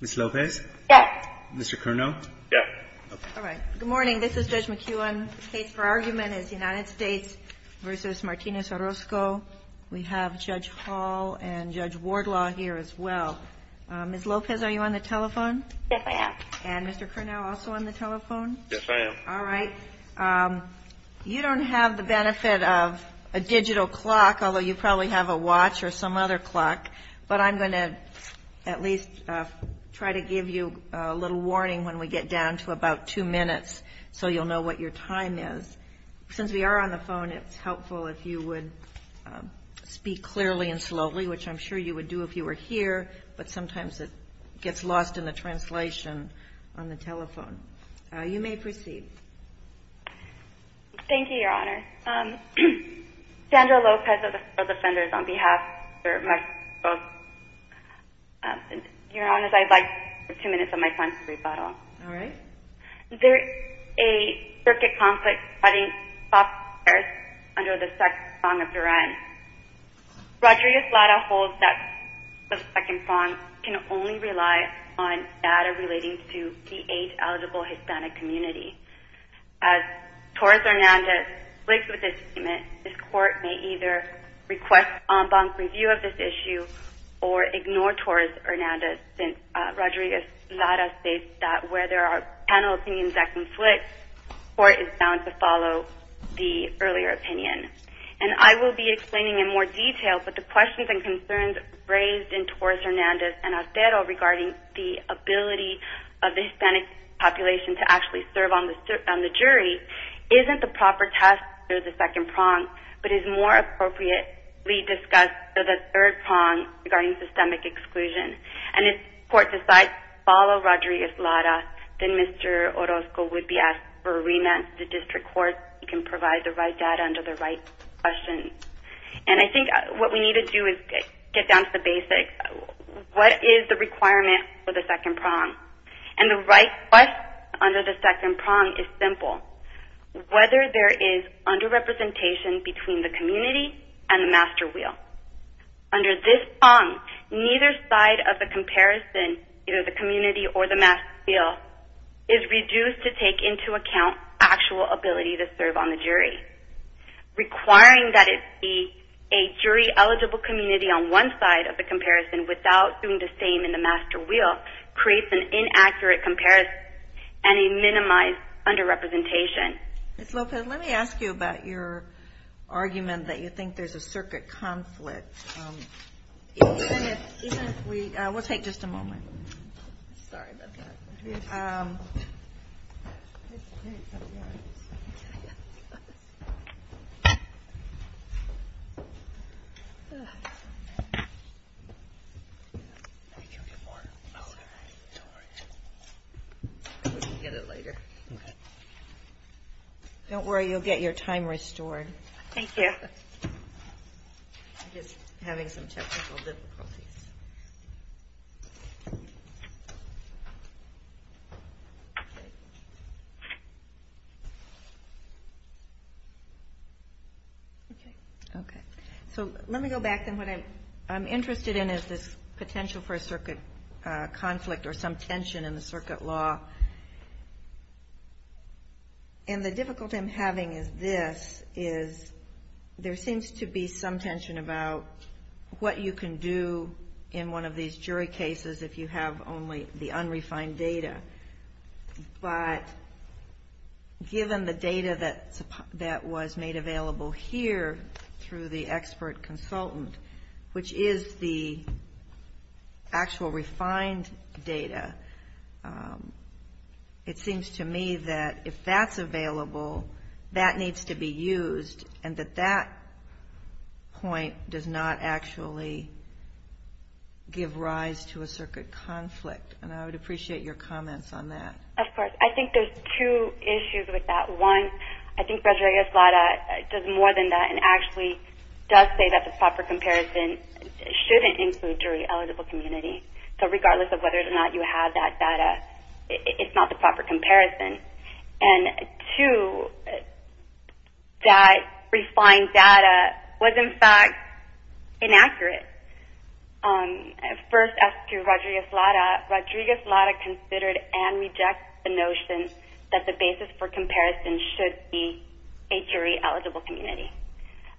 Ms. Lopez? Yes. Mr. Kernow? Yes. All right. Good morning. This is Judge McKeown. The case for argument is United States v. Martinez-Orosco. We have Judge Hall and Judge Wardlaw here as well. Ms. Lopez, are you on the telephone? Yes, I am. And Mr. Kernow also on the telephone? Yes, I am. All right. You don't have the benefit of a digital clock, although you probably have a watch or some other clock. But I'm going to at least try to give you a little warning when we get down to about two minutes so you'll know what your time is. Since we are on the phone, it's helpful if you would speak clearly and slowly, which I'm sure you would do if you were here. But sometimes it gets lost in the translation on the telephone. You may proceed. Thank you, Your Honor. Sandra Lopez of the Defenders on behalf of Ms. Orosco. Your Honor, if I'd like two minutes of my time to rebuttal. All right. There is a circuit conflict setting up under the second song of Duran. Rodriguez-Lara holds that the second song can only rely on data relating to the age-eligible Hispanic community. As Torres-Hernandez splits with this statement, this Court may either request en banc review of this issue or ignore Torres-Hernandez since Rodriguez-Lara states that where there are panel opinions at conflict, the Court is bound to follow the earlier opinion. And I will be explaining in more detail, but the questions and concerns raised in Torres-Hernandez and Atero regarding the ability of the Hispanic population to actually serve on the jury isn't the proper test for the second prong, but is more appropriately discussed for the third prong regarding systemic exclusion. And if the Court decides to follow Rodriguez-Lara, then Mr. Orosco would be asked for remand to the District Court. He can provide the right data under the right questions. And I think what we need to do is get down to the basics. What is the requirement for the second prong? And the right question under the second prong is simple. Whether there is underrepresentation between the community and the master wheel. Under this prong, neither side of the comparison, either the community or the master wheel, is reduced to take into account actual ability to serve on the jury. Requiring that it be a jury-eligible community on one side of the comparison without doing the same in the master wheel creates an inaccurate comparison and a minimized underrepresentation. Ms. Lopez, let me ask you about your argument that you think there's a circuit conflict. We'll take just a moment. Don't worry, you'll get your time restored. Thank you. Having some technical difficulties. Okay. Okay. So let me go back then. What I'm interested in is this potential for a circuit conflict or some tension in the circuit law. And the difficulty I'm having is this, is there seems to be some tension about what you can do in one of these jury cases if you have only the unrefined data. But given the data that was made available here through the expert consultant, which is the actual refined data, it seems to me that if that's available, that needs to be used and that that point does not actually give rise to a circuit conflict. And I would appreciate your comments on that. Of course. I think there's two issues with that. One, I think Rodriguez-Lara does more than that and actually does say that the proper comparison shouldn't include jury eligible community. So regardless of whether or not you have that data, it's not the proper comparison. And two, that refined data was, in fact, inaccurate. First, as to Rodriguez-Lara, Rodriguez-Lara considered and rejected the notion that the basis for comparison should be a jury eligible community.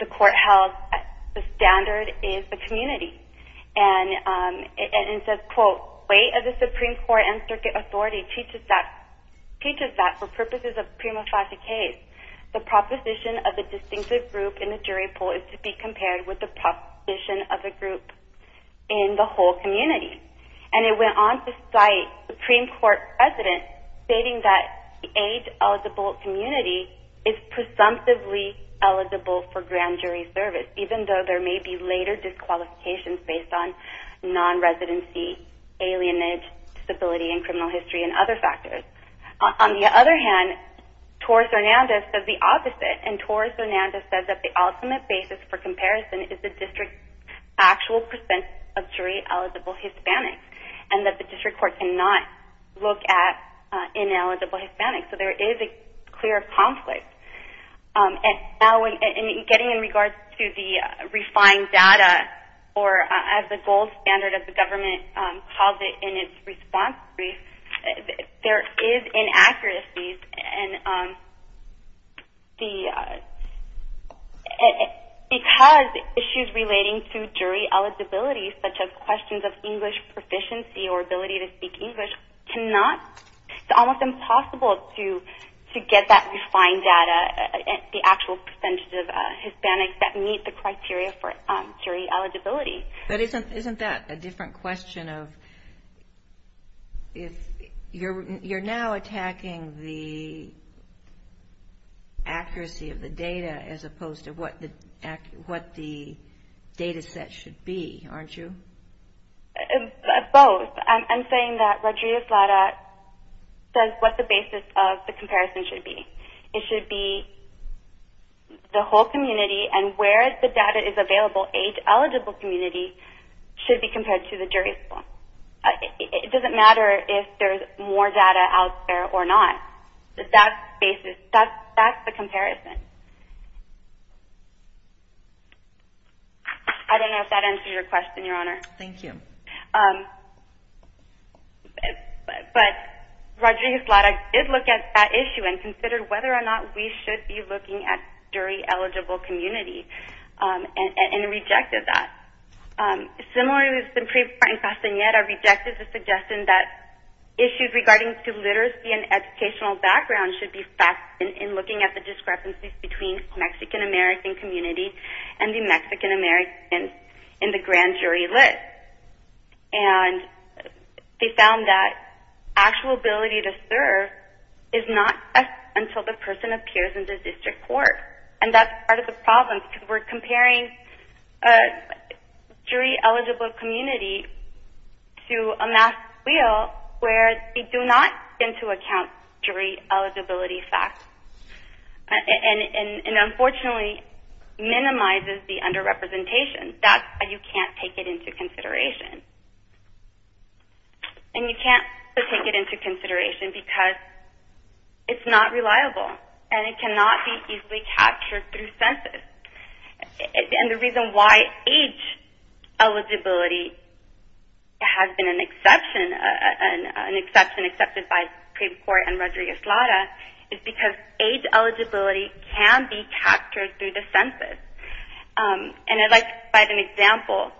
The court held the standard is the community. And it says, quote, weight of the Supreme Court and circuit authority teaches that for purposes of prima facie case, the proposition of the distinctive group in the jury poll is to be compared with the proposition of the group in the whole community. And it went on to cite Supreme Court precedent stating that the age eligible community is presumptively eligible for grand jury service, even though there may be later disqualifications based on non-residency, alienage, disability and criminal history and other factors. On the other hand, Torres-Hernandez said the opposite. And Torres-Hernandez said that the ultimate basis for comparison is the district's actual percent of jury eligible Hispanics and that the district court cannot look at ineligible Hispanics. So there is a clear conflict. And getting in regards to the refined data or as the gold standard of the government calls it in its response brief, there is inaccuracies. Because issues relating to jury eligibility, such as questions of English proficiency or ability to speak English, it's almost impossible to get that refined data, the actual percentage of Hispanics that meet the criteria for jury eligibility. But isn't that a different question of if you're now attacking the accuracy of the data as opposed to what the data set should be, aren't you? Both. I'm saying that Rodriguez-Lada says what the basis of the comparison should be. It should be the whole community and where the data is available, age eligible community, should be compared to the jury. It doesn't matter if there's more data out there or not. That's the comparison. I don't know if that answers your question, Your Honor. Thank you. But Rodriguez-Lada did look at that issue and considered whether or not we should be looking at jury eligible community and rejected that. Similarly, we've been pre-finding Castaneda rejected the suggestion that issues regarding literacy and educational background in looking at the discrepancies between Mexican-American communities and the Mexican-Americans in the grand jury list. And they found that actual ability to serve is not until the person appears in the district court. And that's part of the problem because we're comparing jury eligible community to a masked wheel where they do not take into account jury eligibility facts and, unfortunately, minimizes the underrepresentation. That's why you can't take it into consideration. And you can't take it into consideration because it's not reliable and it cannot be easily captured through census. And the reason why age eligibility has been an exception, an exception accepted by Supreme Court and Rodriguez-Lada, is because age eligibility can be captured through the census. And I'd like to cite an example.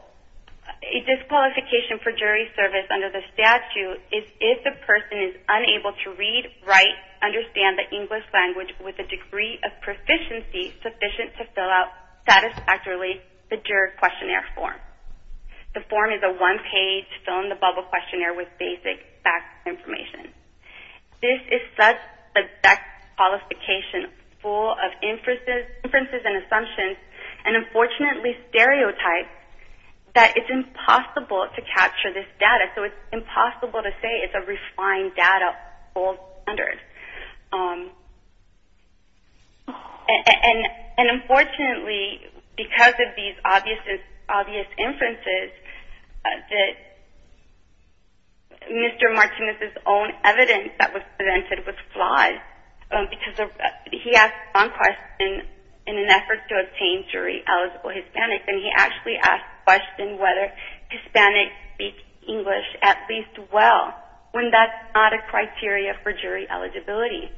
A disqualification for jury service under the statute is if the person is unable to read, write, understand the English language with a degree of proficiency sufficient to fill out satisfactorily the jury questionnaire form. The form is a one-page fill-in-the-bubble questionnaire with basic facts and information. This is such a disqualification full of inferences and assumptions and, unfortunately, stereotypes that it's impossible to capture this data. So it's impossible to say it's a refined data full standard. And, unfortunately, because of these obvious inferences, Mr. Martinez's own evidence that was presented was flawed. Because he asked one question in an effort to obtain jury eligible Hispanics, and he actually asked the question whether Hispanics speak English at least well, when that's not a criteria for jury eligibility.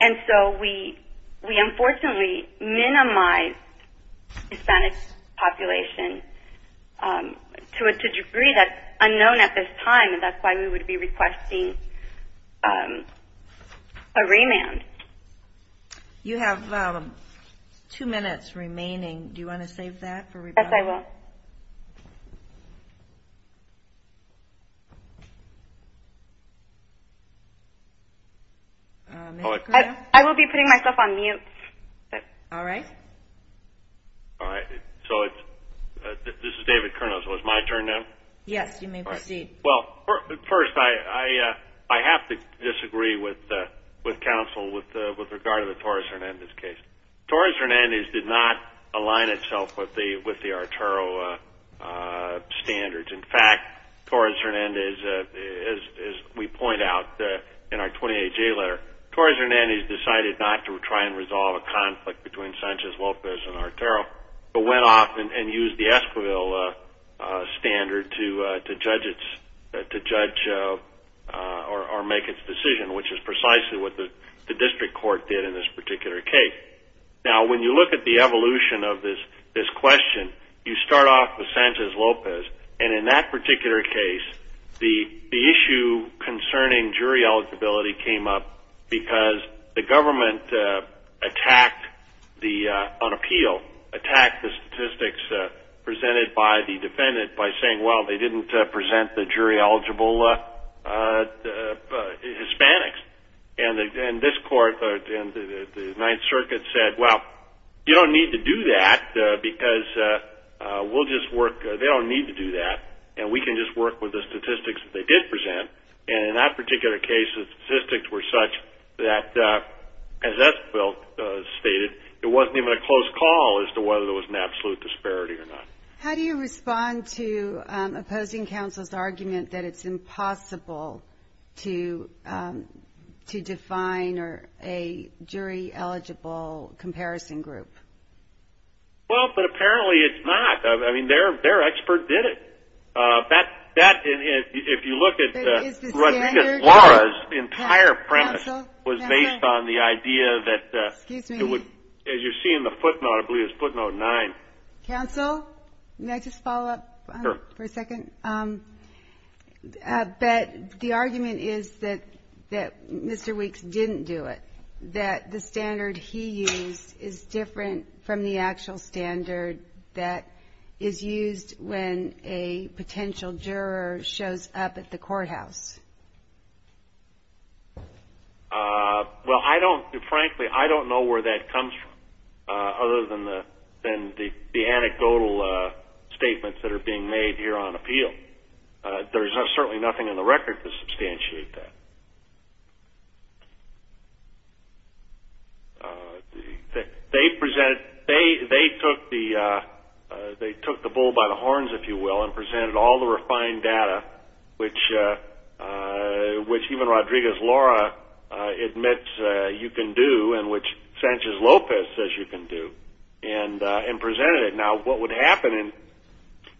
And so we, unfortunately, minimize the Hispanic population to a degree that's unknown at this time, and that's why we would be requesting a remand. You have two minutes remaining. Do you want to save that for rebuttal? Yes, I will. I will be putting myself on mute. All right. So this is David Kernos. Was my turn now? Yes, you may proceed. Well, first, I have to disagree with counsel with regard to the Torres Hernandez case. Torres Hernandez did not align itself with the Arturo standards. In fact, Torres Hernandez, as we point out in our 28-J letter, Torres Hernandez decided not to try and resolve a conflict between Sanchez-Lopez and Arturo, but went off and used the Esquivel standard to judge or make its decision, which is precisely what the district court did in this particular case. Now, when you look at the evolution of this question, you start off with Sanchez-Lopez, and in that particular case, the issue concerning jury eligibility came up because the government, on appeal, attacked the statistics presented by the defendant by saying, well, they didn't present the jury-eligible Hispanics. And this court, the Ninth Circuit, said, well, you don't need to do that because we'll just work. They don't need to do that, and we can just work with the statistics that they did present. And in that particular case, the statistics were such that, as Esquivel stated, it wasn't even a close call as to whether there was an absolute disparity or not. How do you respond to opposing counsel's argument that it's impossible to define a jury-eligible comparison group? Well, but apparently it's not. I mean, their expert did it. If you look at Laura's entire premise was based on the idea that, as you see in the footnote, I believe it's footnote 9. Counsel, may I just follow up for a second? But the argument is that Mr. Weeks didn't do it, that the standard he used is different from the actual standard that is used when a potential juror shows up at the courthouse. Well, frankly, I don't know where that comes from, other than the anecdotal statements that are being made here on appeal. There's certainly nothing in the record to substantiate that. They took the bull by the horns, if you will, and presented all the refined data, which even Rodriguez-Laura admits you can do, and which Sanchez-Lopez says you can do, and presented it. Now, what would happen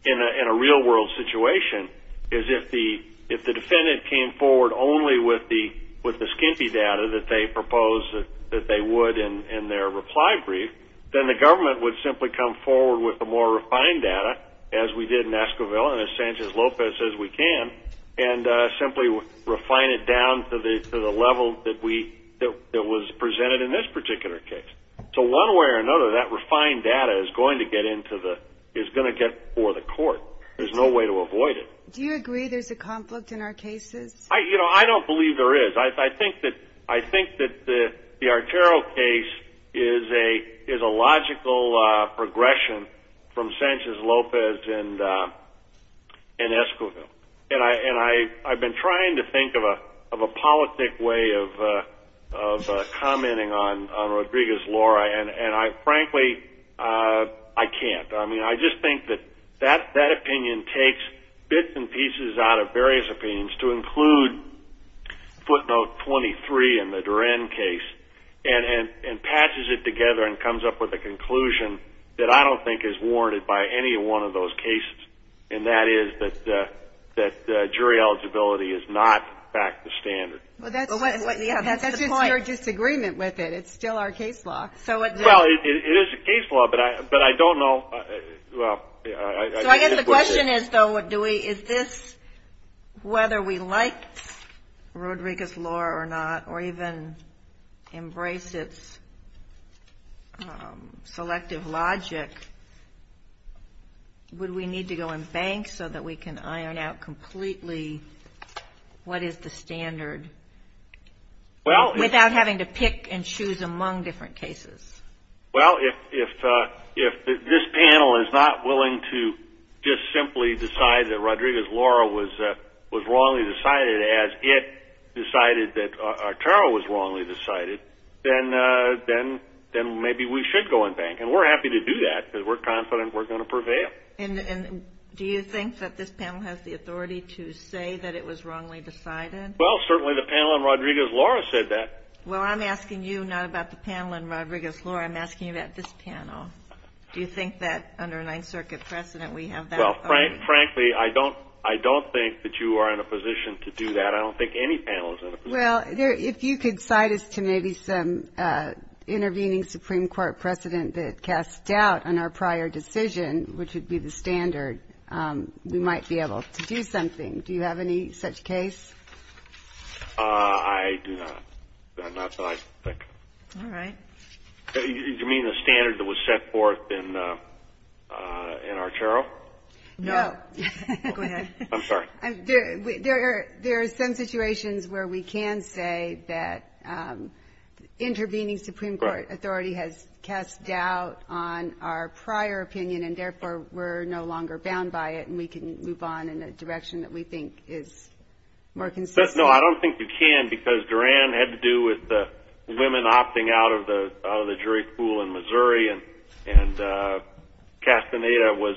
in a real-world situation is if the defendant came forward only with the standard, the skimpy data that they proposed that they would in their reply brief, then the government would simply come forward with the more refined data, as we did in Esquivel and as Sanchez-Lopez says we can, and simply refine it down to the level that was presented in this particular case. So one way or another, that refined data is going to get for the court. There's no way to avoid it. Do you agree there's a conflict in our cases? I don't believe there is. I think that the Artero case is a logical progression from Sanchez-Lopez and Esquivel. And I've been trying to think of a politic way of commenting on Rodriguez-Laura, and frankly, I can't. I mean, I just think that that opinion takes bits and pieces out of various opinions to include footnote 23 in the Duran case, and patches it together and comes up with a conclusion that I don't think is warranted by any one of those cases. And that is that jury eligibility is not back to standard. That's just your disagreement with it. It's still our case law. Well, it is a case law, but I don't know. So I guess the question is, though, is this whether we like Rodriguez-Laura or not, or even embrace its selective logic, would we need to go and bank so that we can iron out completely what is the standard, without having to pick and choose among different cases? Well, if this panel is not willing to just simply decide that Rodriguez-Laura was wrongly decided, as it decided that Artero was wrongly decided, then maybe we should go and bank. And we're happy to do that, because we're confident we're going to prevail. And do you think that this panel has the authority to say that it was wrongly decided? Well, certainly the panel in Rodriguez-Laura said that. Well, I'm asking you not about the panel in Rodriguez-Laura. I'm asking you about this panel. Do you think that under a Ninth Circuit precedent we have that authority? Well, frankly, I don't think that you are in a position to do that. But I don't think any panel is in a position to do that. Well, if you could cite us to maybe some intervening Supreme Court precedent that casts doubt on our prior decision, which would be the standard, we might be able to do something. Do you have any such case? I do not. Not that I can think of. All right. Do you mean the standard that was set forth in Artero? No. Go ahead. I'm sorry. There are some situations where we can say that intervening Supreme Court authority has cast doubt on our prior opinion, and therefore we're no longer bound by it, and we can move on in a direction that we think is more consistent. No, I don't think you can, because Duran had to do with the women opting out of the jury pool in Missouri, and Castaneda was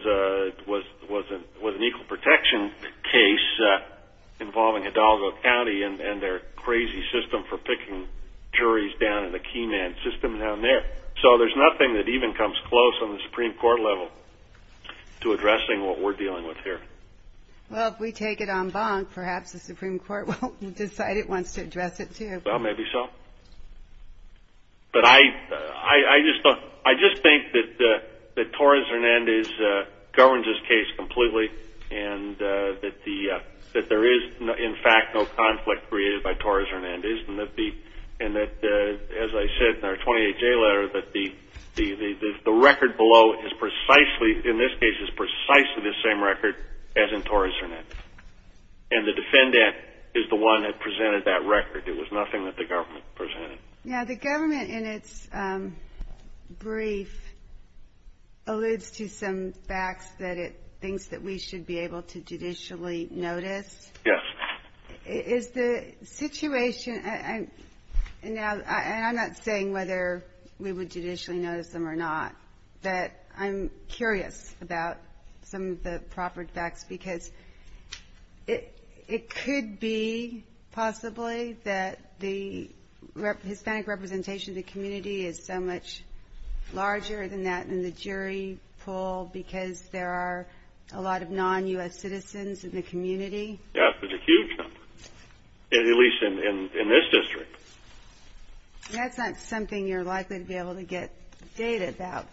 an equal protection case involving Hidalgo County and their crazy system for picking juries down in the key man system down there. So there's nothing that even comes close on the Supreme Court level to addressing what we're dealing with here. Well, if we take it en banc, perhaps the Supreme Court won't decide it wants to address it, too. Well, maybe so. But I just think that Torres Hernandez governs this case completely, and that there is, in fact, no conflict created by Torres Hernandez, and that, as I said in our 28-J letter, that the record below is precisely, in this case, is precisely the same record as in Torres Hernandez. And the defendant is the one that presented that record. It was nothing that the government presented. Now, the government, in its brief, alludes to some facts that it thinks that we should be able to judicially notice. Yes. Is the situation ñ and I'm not saying whether we would judicially notice them or not, but I'm curious about some of the proper facts, because it could be, possibly, that the Hispanic representation in the community is so much larger than that in the jury pool because there are a lot of non-U.S. citizens in the community? Yes, it's a huge number, at least in this district. That's not something you're likely to be able to get data about.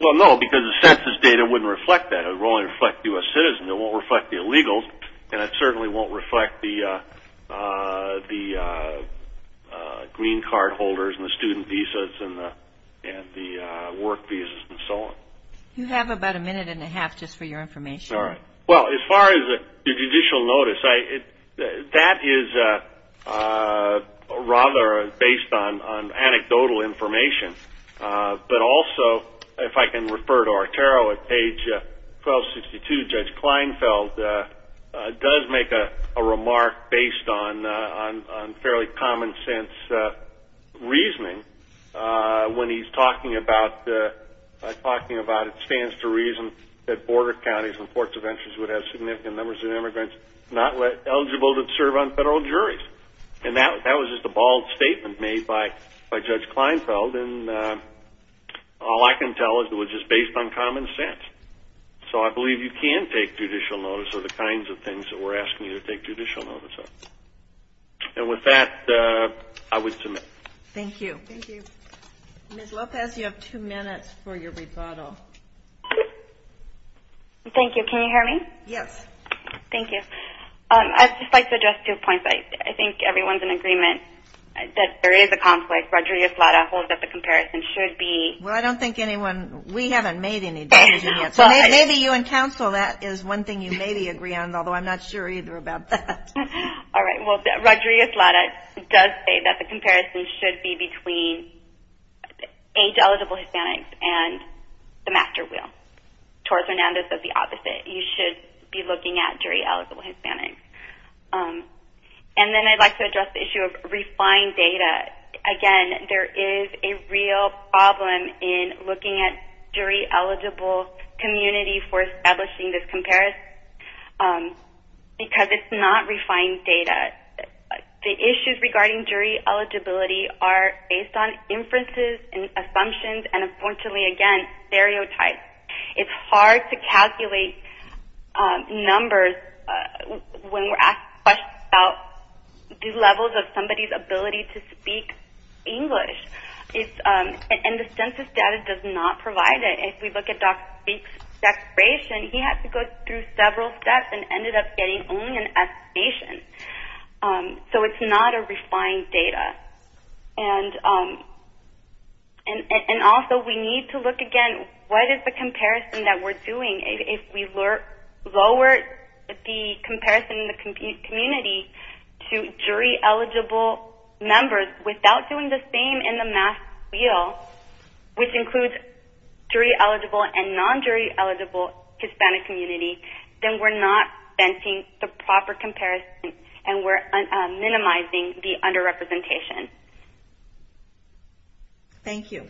Well, no, because the census data wouldn't reflect that. It would only reflect U.S. citizens. It won't reflect the illegals, and it certainly won't reflect the green card holders and the student visas and the work visas and so on. You have about a minute and a half just for your information. All right. Well, as far as the judicial notice, that is rather based on anecdotal information. But also, if I can refer to our tarot, at page 1262, Judge Kleinfeld does make a remark based on fairly common-sense reasoning when he's talking about the reason that border counties and ports of entrance would have significant numbers of immigrants not eligible to serve on federal juries. And that was just a bald statement made by Judge Kleinfeld, and all I can tell is it was just based on common sense. So I believe you can take judicial notice of the kinds of things that we're asking you to take judicial notice of. And with that, I would submit. Thank you. Ms. Lopez, you have two minutes for your rebuttal. Thank you. Can you hear me? Yes. Thank you. I'd just like to address two points. I think everyone's in agreement that there is a conflict. Rogeria-Slada holds that the comparison should be... Well, I don't think anyone... We haven't made any decisions yet. So maybe you and counsel, that is one thing you maybe agree on, although I'm not sure either about that. All right. Well, Rogeria-Slada does say that the comparison should be between age-eligible Hispanics and the master wheel. Torres-Hernandez says the opposite. You should be looking at jury-eligible Hispanics. And then I'd like to address the issue of refined data. Again, there is a real problem in looking at jury-eligible communities for establishing this comparison, because it's not refined data. The issues regarding jury eligibility are based on inferences and assumptions, and unfortunately, again, stereotypes. It's hard to calculate numbers when we're asked questions about the levels of somebody's ability to speak English. And the census data does not provide it. If we look at Dr. Fink's declaration, he had to go through several steps and ended up getting only an estimation. So it's not a refined data. And also, we need to look again, what is the comparison that we're doing? If we lower the comparison in the community to jury-eligible members without doing the same in the master wheel, which includes jury-eligible and non-jury-eligible Hispanic communities, then we're not fencing the proper comparison and we're minimizing the underrepresentation. Thank you.